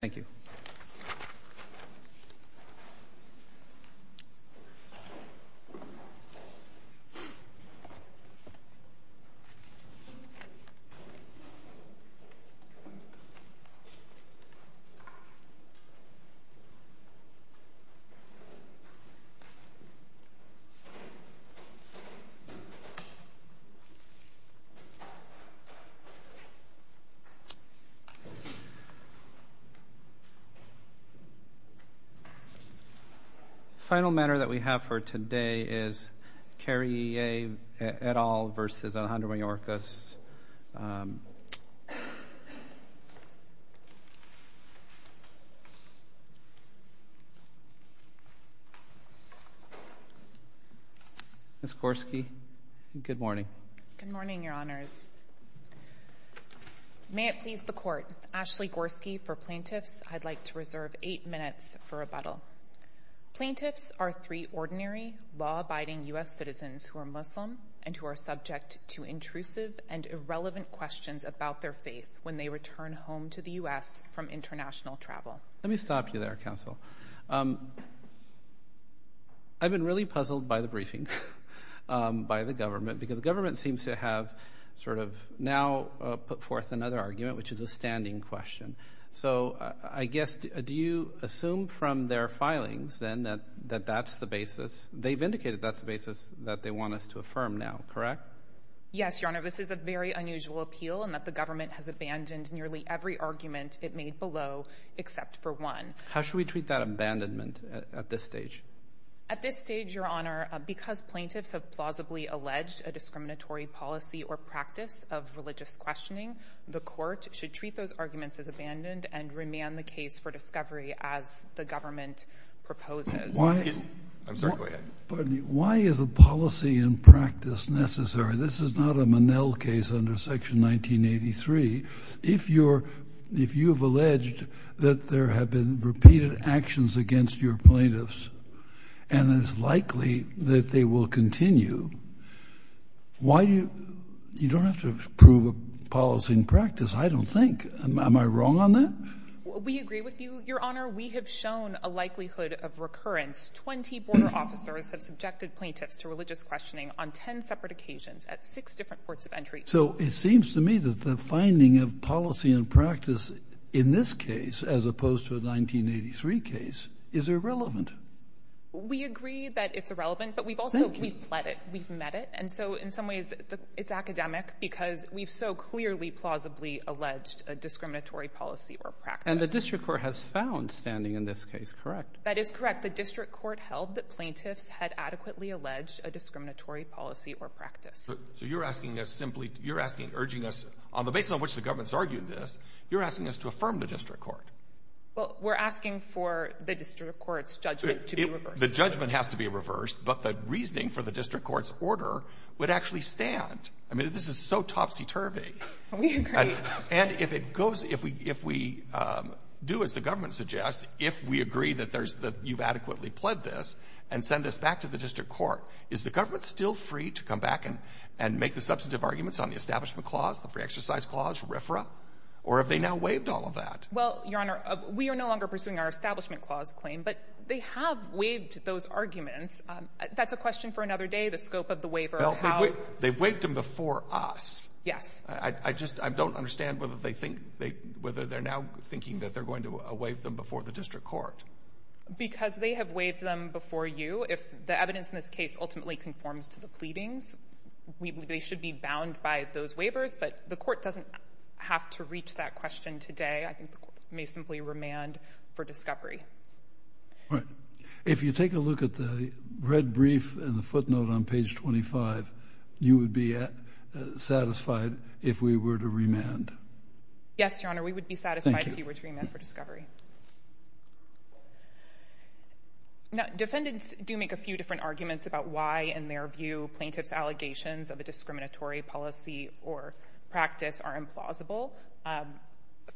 Thank you. The final matter that we have for today is Kariye et al. v. Alejandro Mayorkas. Ms. Gorski, good morning. Good morning, Your Honors. May it please the Court, Ashley Gorski for plaintiffs. I'd like to reserve eight minutes for rebuttal. Plaintiffs are three ordinary, law-abiding U.S. citizens who are Muslim and who are subject to intrusive and irrelevant questions about their faith when they return home to the U.S. from international travel. Let me stop you there, Counsel. I've been really puzzled by the briefing, by the government, because the government seems to have sort of now put forth another argument, which is a standing question. So I guess, do you assume from their filings, then, that that's the basis? They've indicated that's the basis that they want us to affirm now, correct? Yes, Your Honor. This is a very unusual appeal in that the government has abandoned nearly every argument it made below except for one. How should we treat that abandonment at this stage? At this stage, Your Honor, because plaintiffs have plausibly alleged a discriminatory policy or practice of religious questioning, the Court should treat those arguments as abandoned and remand the case for discovery as the government proposes. I'm sorry. Go ahead. Pardon me. Why is a policy and practice necessary? This is not a Monell case under Section 1983. If you have alleged that there have been repeated actions against your plaintiffs and it's likely that they will continue, why do you—you don't have to prove a policy and practice, I don't think. Am I wrong on that? We agree with you, Your Honor. We have shown a likelihood of recurrence. Twenty border officers have subjected plaintiffs to religious questioning on ten separate occasions at six different ports of entry. So it seems to me that the finding of policy and practice in this case, as opposed to a 1983 case, is irrelevant. We agree that it's irrelevant, but we've also— We've pled it. We've met it. And so, in some ways, it's academic because we've so clearly, plausibly alleged a discriminatory policy or practice. And the District Court has found standing in this case correct. That is correct. The District Court held that plaintiffs had adequately alleged a discriminatory policy or practice. So you're asking us simply—you're asking—urging us—on the basis on which the government has argued this, you're asking us to affirm the District Court. Well, we're asking for the District Court's judgment to be reversed. The judgment has to be reversed, but the reasoning for the District Court's order would actually stand. I mean, this is so topsy-turvy. We agree. And if it goes—if we do as the government suggests, if we agree that there's—that you've adequately pled this and send this back to the District Court, is the government still free to come back and—and make the substantive arguments on the Establishment Clause, the Free Exercise Clause, RFRA? Or have they now waived all of that? Well, Your Honor, we are no longer pursuing our Establishment Clause claim, but they have waived those arguments. That's a question for another day, the scope of the waiver, how— Well, they've waived them before us. Yes. I just—I don't understand whether they think—whether they're now thinking that they're going to waive them before the District Court. Because they have waived them before you. If the evidence in this case ultimately conforms to the pleadings, they should be bound by those waivers. But the Court doesn't have to reach that question today. I think the Court may simply remand for discovery. All right. If you take a look at the red brief and the footnote on page 25, you would be satisfied if we were to remand? Yes, Your Honor. Thank you. We would be satisfied if you were to remand for discovery. Now, defendants do make a few different arguments about why, in their view, plaintiff's allegations of a discriminatory policy or practice are implausible.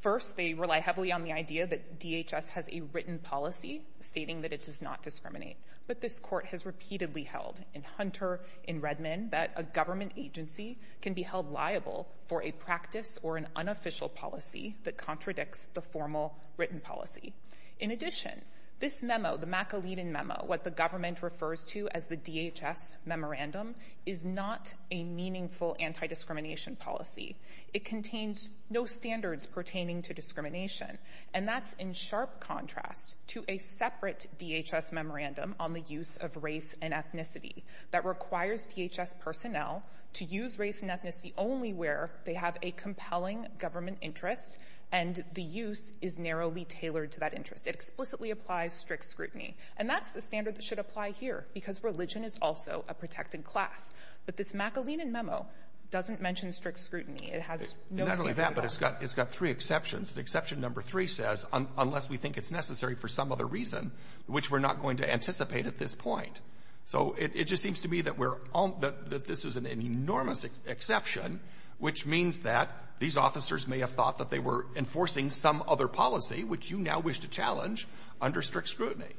First, they rely heavily on the idea that DHS has a written policy stating that it does not discriminate. But this Court has repeatedly held in Hunter, in Redmond, that a government agency can be unreliable for a practice or an unofficial policy that contradicts the formal written policy. In addition, this memo, the McAleden memo, what the government refers to as the DHS memorandum, is not a meaningful anti-discrimination policy. It contains no standards pertaining to discrimination. And that's in sharp contrast to a separate DHS memorandum on the use of race and ethnicity that requires DHS personnel to use race and ethnicity only where they have a compelling government interest and the use is narrowly tailored to that interest. It explicitly applies strict scrutiny. And that's the standard that should apply here, because religion is also a protected class. But this McAleden memo doesn't mention strict scrutiny. It has no standard at all. Not only that, but it's got three exceptions. And exception number three says, unless we think it's necessary for some other reason, which we're not going to anticipate at this point. So it just seems to me that this is an enormous exception, which means that these officers may have thought that they were enforcing some other policy, which you now wish to challenge, under strict scrutiny.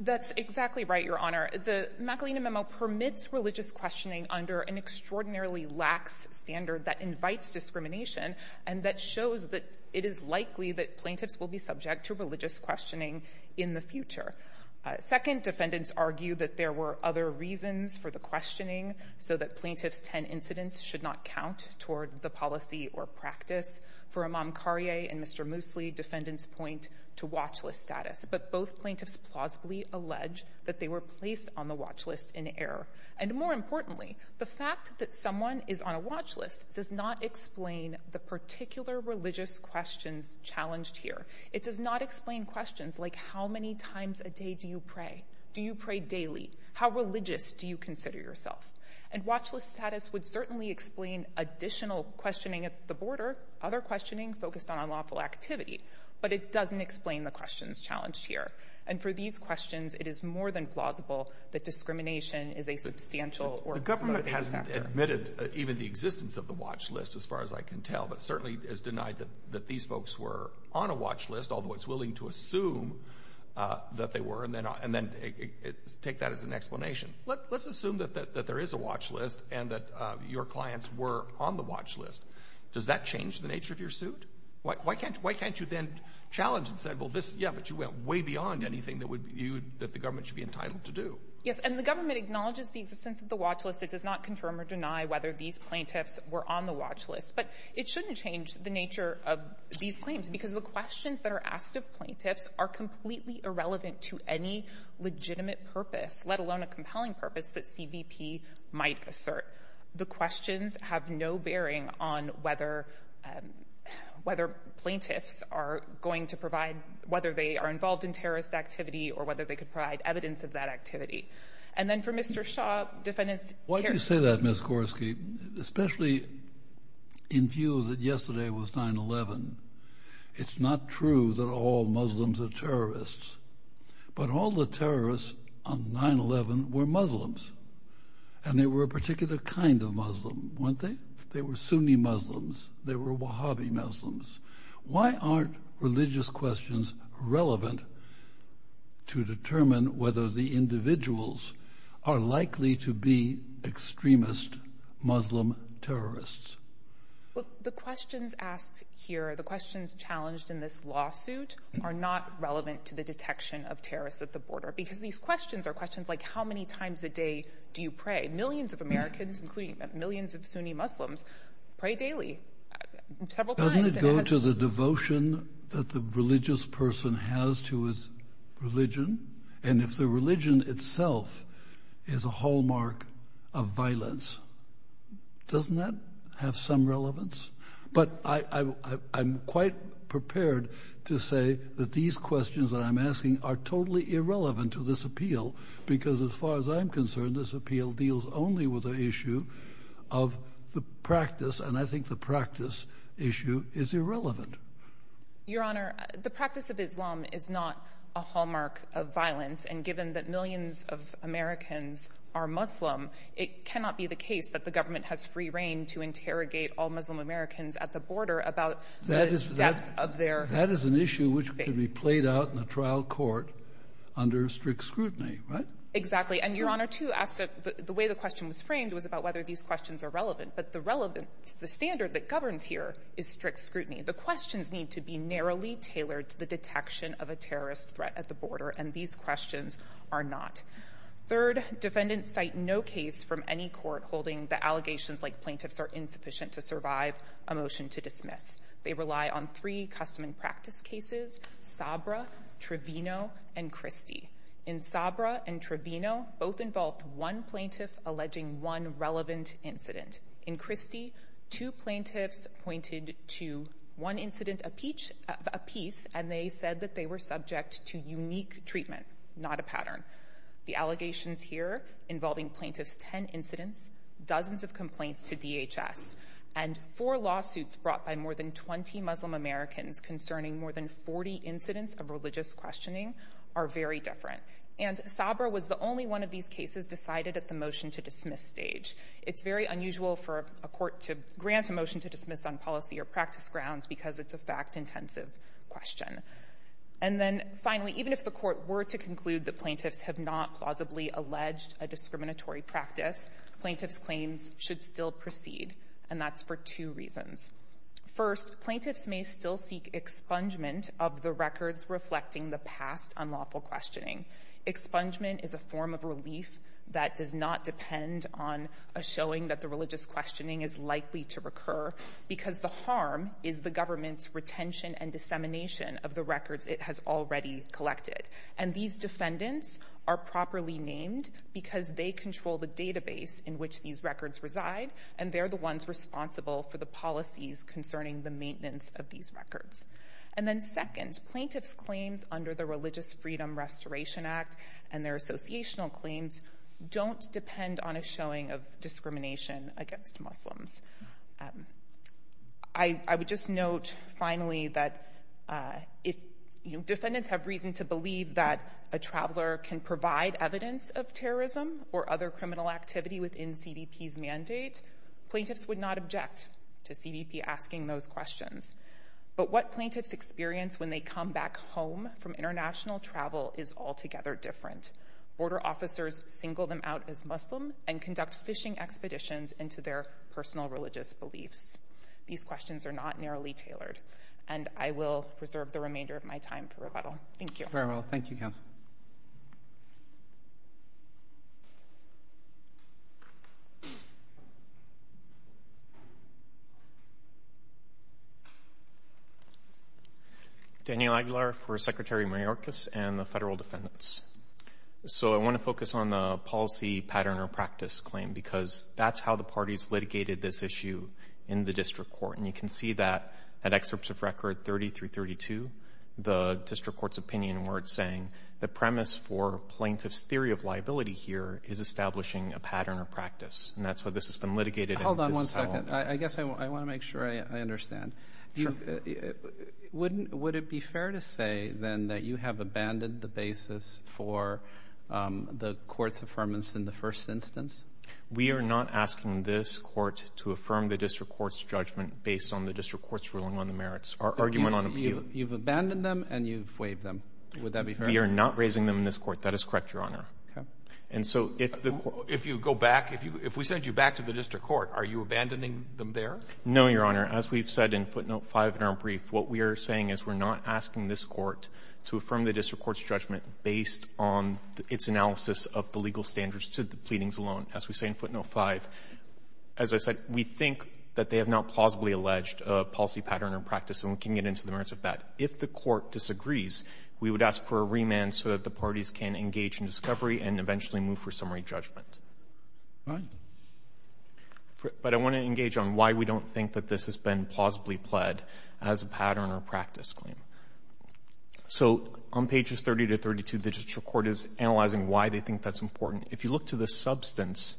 That's exactly right, Your Honor. The McAleden memo permits religious questioning under an extraordinarily lax standard that invites discrimination and that shows that it is likely that plaintiffs will be subject to religious questioning in the future. Second, defendants argue that there were other reasons for the questioning, so that plaintiff's 10 incidents should not count toward the policy or practice. For Imam Karie and Mr. Moosley, defendants point to watch list status. But both plaintiffs plausibly allege that they were placed on the watch list in error. And more importantly, the fact that someone is on a watch list does not explain the particular religious questions challenged here. It does not explain questions like, how many times a day do you pray? Do you pray daily? How religious do you consider yourself? And watch list status would certainly explain additional questioning at the border, other questioning focused on unlawful activity, but it doesn't explain the questions challenged here. And for these questions, it is more than plausible that discrimination is a substantial or- The government hasn't admitted even the existence of the watch list, as far as I can tell, but it certainly is denied that these folks were on a watch list, although it's willing to assume that they were, and then take that as an explanation. Let's assume that there is a watch list, and that your clients were on the watch list. Does that change the nature of your suit? Why can't you then challenge and say, well, yeah, but you went way beyond anything that the government should be entitled to do? Yes, and the government acknowledges the existence of the watch list. It does not confirm or deny whether these plaintiffs were on the watch list. But it shouldn't change the nature of these claims, because the questions that are asked of plaintiffs are completely irrelevant to any legitimate purpose, let alone a compelling purpose that CBP might assert. The questions have no bearing on whether plaintiffs are going to provide, whether they are involved in terrorist activity, or whether they could provide evidence of that activity. And then for Mr. Shaw, defendants- I hope you say that, Ms. Gorski, especially in view that yesterday was 9-11. It's not true that all Muslims are terrorists, but all the terrorists on 9-11 were Muslims, and they were a particular kind of Muslim, weren't they? They were Sunni Muslims. They were Wahhabi Muslims. Why aren't religious questions relevant to determine whether the individuals are likely to be extremist Muslim terrorists? Well, the questions asked here, the questions challenged in this lawsuit, are not relevant to the detection of terrorists at the border, because these questions are questions like how many times a day do you pray? Millions of Americans, including millions of Sunni Muslims, pray daily, several times. Doesn't it go to the devotion that the religious person has to his religion? And if the religion itself is a hallmark of violence, doesn't that have some relevance? But I'm quite prepared to say that these questions that I'm asking are totally irrelevant to this appeal, because as far as I'm concerned, this appeal deals only with the issue of the practice, and I think the practice issue is irrelevant. Your Honor, the practice of Islam is not a hallmark of violence, and given that millions of Americans are Muslim, it cannot be the case that the government has free reign to interrogate all Muslim Americans at the border about the depth of their faith. That is an issue which could be played out in a trial court under strict scrutiny, right? Exactly, and Your Honor, too, asked, the way the question was framed was about whether these questions are relevant, but the relevance, the standard that governs here is strict scrutiny. The questions need to be narrowly tailored to the detection of a terrorist threat at the border, and these questions are not. Third, defendants cite no case from any court holding the allegations like plaintiffs are insufficient to survive a motion to dismiss. They rely on three custom and practice cases, Sabra, Trevino, and Christie. In Sabra and Trevino, both involved one plaintiff alleging one relevant incident. In Christie, two plaintiffs pointed to one incident apiece, and they said that they were subject to unique treatment, not a pattern. The allegations here involving plaintiffs' 10 incidents, dozens of complaints to DHS, and four lawsuits brought by more than 20 Muslim Americans concerning more than 40 incidents of religious questioning are very different. And Sabra was the only one of these cases decided at the motion to dismiss stage. It's very unusual for a court to grant a motion to dismiss on policy or practice grounds because it's a fact-intensive question. And then finally, even if the court were to conclude that plaintiffs have not plausibly alleged a discriminatory practice, plaintiffs' claims should still proceed, and that's for two reasons. First, plaintiffs may still seek expungement of the records reflecting the past unlawful questioning. Expungement is a form of relief that does not depend on a showing that the religious questioning is likely to recur, because the harm is the government's retention and dissemination of the records it has already collected. And these defendants are properly named because they control the database in which these records reside, and they're the ones responsible for the policies concerning the maintenance of these records. And then second, plaintiffs' claims under the Religious Freedom Restoration Act and their associational claims don't depend on a showing of discrimination against Muslims. I would just note, finally, that if defendants have reason to believe that a traveler can provide evidence of terrorism or other criminal activity within CDP's mandate, plaintiffs would not object to CDP asking those questions. But what plaintiffs experience when they come back home from international travel is altogether different. Border officers single them out as Muslim and conduct fishing expeditions into their personal religious beliefs. These questions are not narrowly tailored, and I will preserve the remainder of my time for rebuttal. Thank you. Very well. Thank you, counsel. Daniel Aguilar for Secretary Mayorkas and the federal defendants. So I want to focus on the policy pattern or practice claim because that's how the parties litigated this issue in the district court. And you can see that at excerpts of record 30 through 32, the district court's opinion where it's saying the premise for plaintiff's theory of liability here is establishing a pattern of practice. And that's what this has been litigated in. Hold on one second. I guess I want to make sure I understand. Sure. Would it be fair to say then that you have abandoned the basis for the court's affirmance in the first instance? We are not asking this court to affirm the district court's judgment based on the district court's ruling on the merits or argument on appeal. You've abandoned them and you've waived them. Would that be fair? We are not raising them in this court. That is correct, Your Honor. Okay. And so if the court— If you go back, if we send you back to the district court, are you abandoning them there? No, Your Honor. As we've said in footnote 5 in our brief, what we are saying is we're not asking this court to affirm the district court's judgment based on its analysis of the legal standards to the pleadings alone. As we say in footnote 5, as I said, we think that they have not plausibly alleged a policy pattern or practice and we can get into the merits of that. If the court disagrees, we would ask for a remand so that the parties can engage in discovery and eventually move for summary judgment. Fine. But I want to engage on why we don't think that this has been plausibly pled as a pattern or practice claim. So on pages 30 to 32, the district court is analyzing why they think that's important. If you look to the substance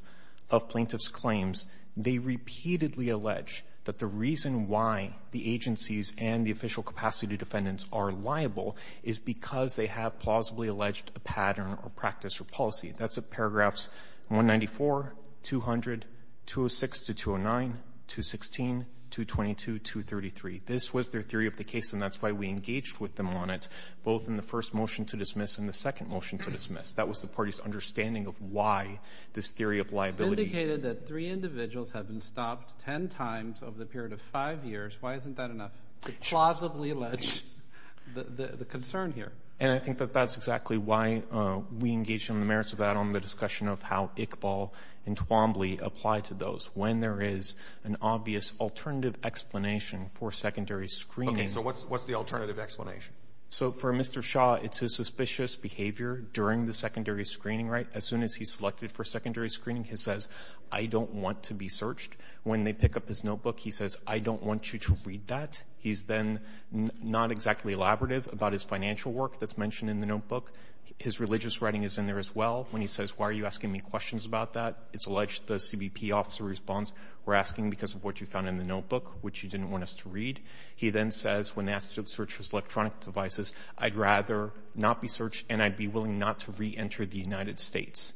of plaintiff's claims, they repeatedly allege that the reason why the agencies and the official capacity defendants are liable is because they have plausibly alleged a pattern or practice or policy. That's in paragraphs 194, 200, 206 to 209, 216, 222, 233. This was their theory of the case and that's why we engaged with them on it, both in the first motion to dismiss and the second motion to dismiss. That was the party's understanding of why this theory of liability. It indicated that three individuals have been stopped ten times over the period of five years. Why isn't that enough to plausibly allege the concern here? And I think that that's exactly why we engaged in the merits of that on the discussion of how Iqbal and Twombly apply to those. When there is an obvious alternative explanation for secondary screening. Okay. So what's the alternative explanation? So for Mr. Shaw, it's his suspicious behavior during the secondary screening, right? As soon as he's selected for secondary screening, he says, I don't want to be searched. When they pick up his notebook, he says, I don't want you to read that. He's then not exactly elaborative about his financial work that's mentioned in the notebook. His religious writing is in there as well when he says, why are you asking me questions about that? It's alleged the CBP officer responds, we're asking because of what you found in the notebook, which you didn't want us to read. He then says, when asked to search his electronic devices, I'd rather not be searched and I'd be willing not to reenter the United States.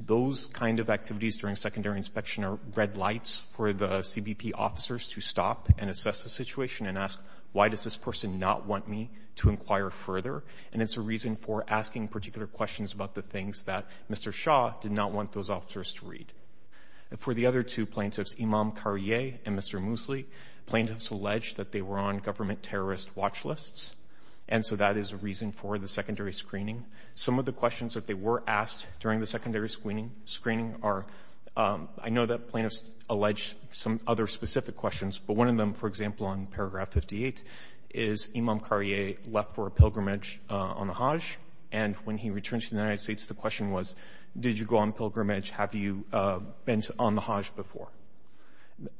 Those kind of activities during secondary inspection are red lights for the CBP officers to stop and assess the situation and ask, why does this person not want me to inquire further? And it's a reason for asking particular questions about the things that Mr. Shaw did not want those officers to read. For the other two plaintiffs, Imam Karie and Mr. Moosley, plaintiffs allege that they were on government terrorist watch lists. And so that is a reason for the secondary screening. Some of the questions that they were asked during the secondary screening are, I know that plaintiffs allege some other specific questions, but one of them, for example, on paragraph 58, is Imam Karie left for a pilgrimage on the Hajj. And when he returned to the United States, the question was, did you go on pilgrimage? Have you been on the Hajj before?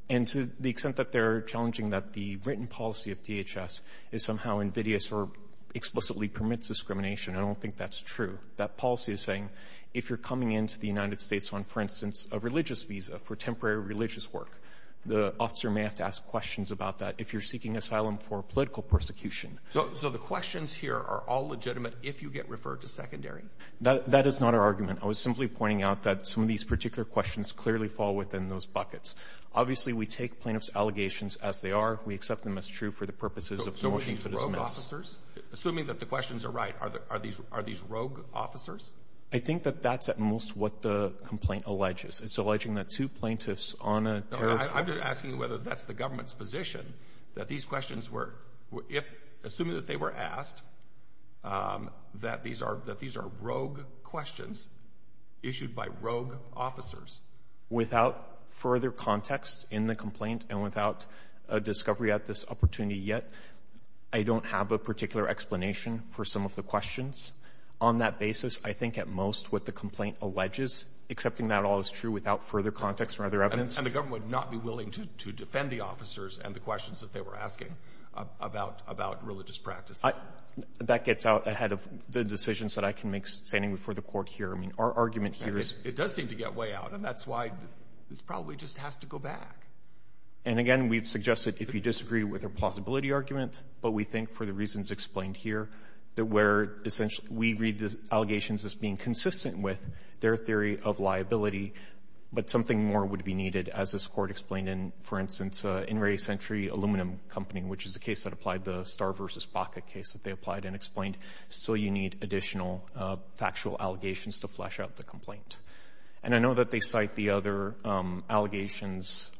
And to the extent that they're challenging that the written policy of DHS is somehow invidious or explicitly permits discrimination, I don't think that's true. That policy is saying, if you're coming into the United States on, for instance, a religious visa for temporary religious work, the officer may have to ask questions about that if you're seeking asylum for political persecution. So the questions here are all legitimate if you get referred to secondary? That is not our argument. I was simply pointing out that some of these particular questions clearly fall within those Obviously, we take plaintiffs' allegations as they are. We accept them as true for the purposes of motions that is missed. So are these rogue officers? Assuming that the questions are right, are these rogue officers? I think that that's at most what the complaint alleges. It's alleging that two plaintiffs on a terrorist – I'm just asking whether that's the government's position, that these questions were – if – assuming that they were asked, that these are rogue questions issued by rogue officers. Without further context in the complaint and without a discovery at this opportunity yet, I don't have a particular explanation for some of the questions. On that basis, I think at most what the complaint alleges, accepting that all is true without further context or other evidence – And the government would not be willing to defend the officers and the questions that they were asking about religious practices? That gets out ahead of the decisions that I can make standing before the court here. I mean, our argument here is – It does seem to get way out, and that's why this probably just has to go back. And again, we've suggested if you disagree with our plausibility argument, but we think for the reasons explained here, that where essentially we read the allegations as being consistent with their theory of liability, but something more would be needed, as this court explained in, for instance, In re Centuri, Aluminum Company, which is the case that applied the Starr v. Baca case that they applied and explained. So you need additional factual allegations to flesh out the complaint. And I know that they cite the other allegations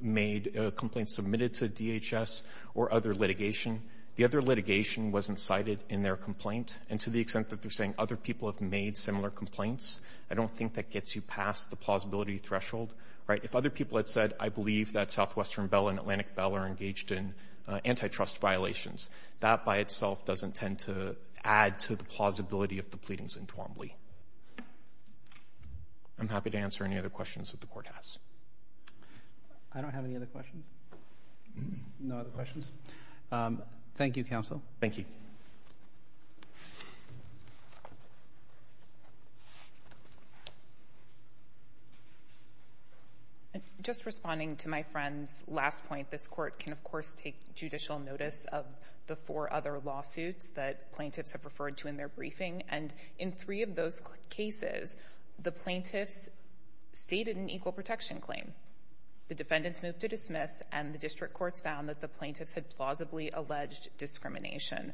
made – complaints submitted to DHS or other litigation. The other litigation wasn't cited in their complaint, and to the extent that they're saying other people have made similar complaints, I don't think that gets you past the plausibility threshold. Right? If other people had said, I believe that Southwestern Bell and Atlantic Bell are engaged in antitrust violations, that by itself doesn't tend to add to the plausibility of the pleadings in Twombly. I'm happy to answer any other questions that the court has. I don't have any other questions. No other questions? Thank you, counsel. Thank you. Just responding to my friend's last point, this court can, of course, take judicial notice of the four other lawsuits that plaintiffs have referred to in their briefing, and in three of those cases, the plaintiffs stated an equal protection claim. The defendants moved to dismiss, and the district courts found that the plaintiffs had plausibly alleged discrimination.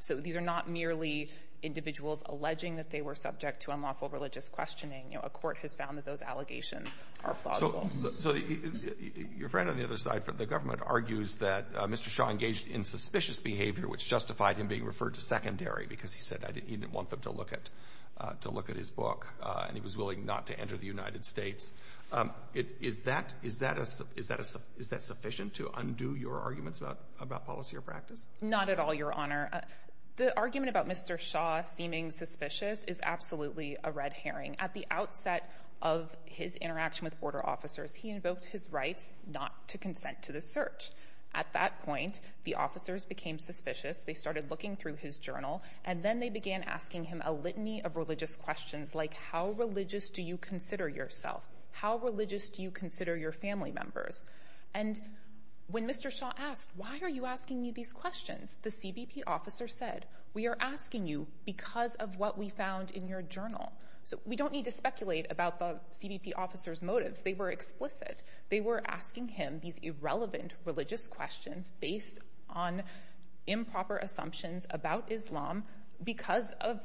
So these are not merely individuals alleging that they were subject to unlawful religious questioning. You know, a court has found that those allegations are plausible. So your friend on the other side, the government argues that Mr. Shaw engaged in suspicious behavior which justified him being referred to secondary because he said he didn't want them to look at his book, and he was willing not to enter the United States. Is that sufficient to undo your arguments about policy or practice? Not at all, Your Honor. The argument about Mr. Shaw seeming suspicious is absolutely a red herring. At the outset of his interaction with border officers, he invoked his rights not to consent to the search. At that point, the officers became suspicious. They started looking through his journal, and then they began asking him a litany of religious questions like, how religious do you consider yourself? How religious do you consider your family members? And when Mr. Shaw asked, why are you asking me these questions, the CBP officer said, we are asking you because of what we found in your journal. So we don't need to speculate about the CBP officer's motives. They were explicit. They were asking him these irrelevant religious questions based on improper assumptions about Islam because of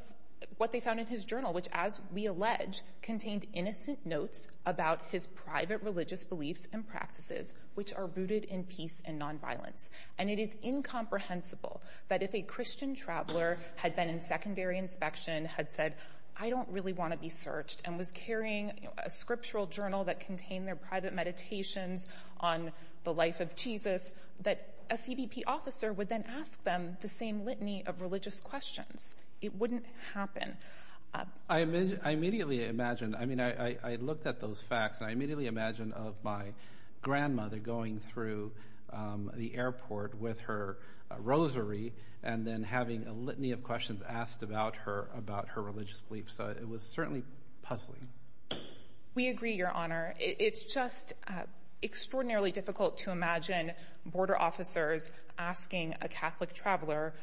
what they found in his journal, which, as we allege, contained innocent notes about his private religious beliefs and practices, which are rooted in peace and nonviolence. And it is incomprehensible that if a Christian traveler had been in secondary inspection, had said, I don't really want to be searched, and was carrying a scriptural journal that contained their private meditations on the life of Jesus, that a CBP officer would then ask them the same litany of religious questions. It wouldn't happen. I immediately imagined, I mean, I looked at those facts, and I immediately imagined of my grandmother going through the airport with her rosary and then having a litany of questions asked about her religious beliefs. It was certainly puzzling. We agree, Your Honor. It's just extraordinarily difficult to imagine border officers asking a Catholic traveler,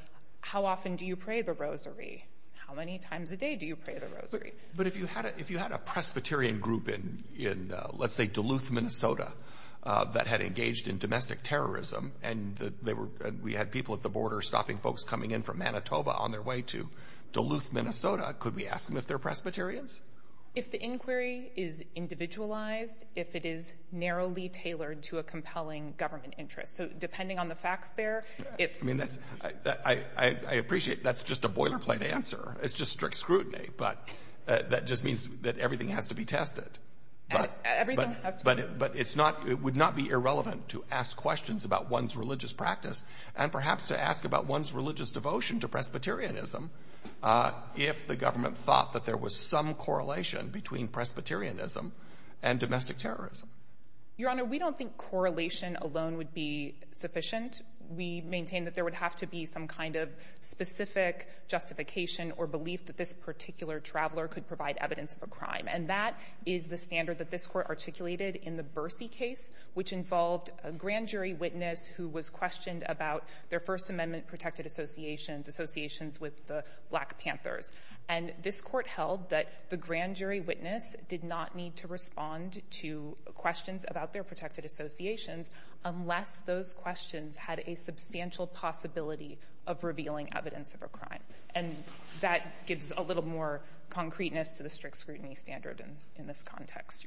how often do you pray the rosary? How many times a day do you pray the rosary? But if you had a Presbyterian group in, let's say, Duluth, Minnesota, that had engaged in domestic terrorism, and we had people at the border stopping folks coming in from Manitoba on their way to Duluth, Minnesota, could we ask them if they're Presbyterians? If the inquiry is individualized, if it is narrowly tailored to a compelling government interest. So depending on the facts there, it's... I mean, I appreciate that's just a boilerplate answer. It's just strict scrutiny, but that just means that everything has to be tested. Everything has to be tested. But it would not be irrelevant to ask questions about one's religious practice, and perhaps to ask about one's religious devotion to Presbyterianism, if the government thought that there was some correlation between Presbyterianism and domestic terrorism. Your Honor, we don't think correlation alone would be sufficient. We maintain that there would have to be some kind of specific justification or belief that this particular traveler could provide evidence of a crime. And that is the standard that this Court articulated in the Bercy case, which involved a grand jury witness who was questioned about their First Amendment protected associations, associations with the Black Panthers. And this Court held that the grand jury witness did not need to respond to questions about their protected associations unless those questions had a substantial possibility of revealing evidence of a crime. And that gives a little more concreteness to the strict scrutiny standard in this context,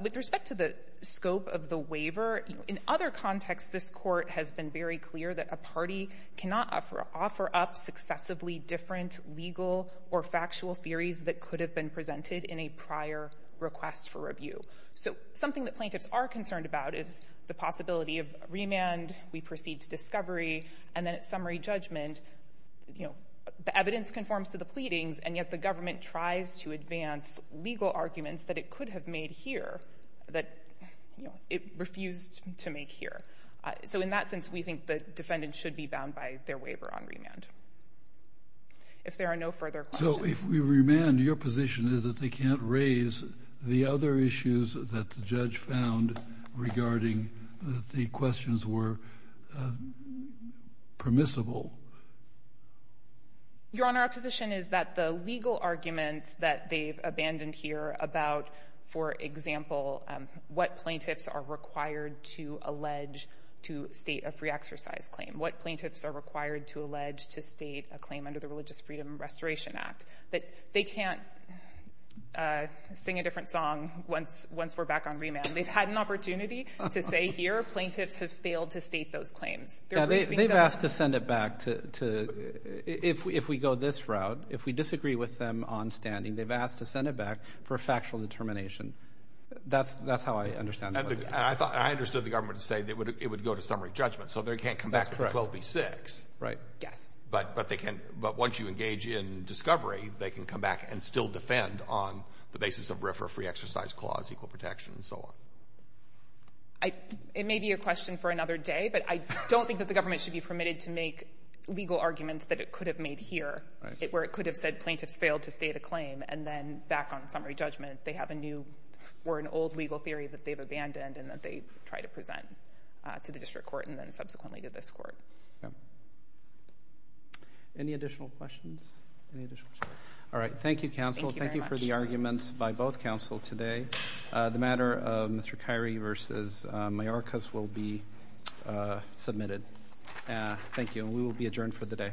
With respect to the scope of the waiver, in other contexts, this Court has been very clear that a party cannot offer up successively different legal or factual theories that could have been presented in a prior request for review. So something that plaintiffs are concerned about is the possibility of remand, we proceed to discovery, and then at summary judgment, the evidence conforms to the pleadings, and yet the government tries to advance legal arguments that it could have made here that it refused to make here. So in that sense, we think the defendant should be bound by their waiver on remand. If there are no further questions. So if we remand, your position is that they can't raise the other issues that the judge found regarding the questions were permissible. Your Honor, our position is that the legal arguments that they've abandoned here about, for example, what plaintiffs are required to allege to state a free exercise claim, what plaintiffs are required to allege to state a claim under the Religious Freedom Restoration Act, that they can't sing a different song once we're back on remand. They've had an opportunity to say here, plaintiffs have failed to state those claims. They've asked to send it back to, if we go this route, if we disagree with them on standing, they've asked to send it back for a factual determination. That's how I understand it. And I thought, I understood the government to say that it would go to summary judgment. So they can't come back to 12B6. Right. Yes. But once you engage in discovery, they can come back and still defend on the basis of RFRA free exercise clause, equal protection, and so on. It may be a question for another day, but I don't think that the government should be permitted to make legal arguments that it could have made here, where it could have said plaintiffs failed to state a claim, and then back on summary judgment, they have a new or an old legal theory that they've abandoned, and that they try to present to the district court, and then subsequently to this court. Any additional questions? Any additional questions? All right. Thank you, counsel. Thank you very much. Thank you for the arguments by both counsel today. The matter of Mr. Kyrie versus Mayorkas will be submitted. Thank you. And we will be adjourned for the day. Thank you.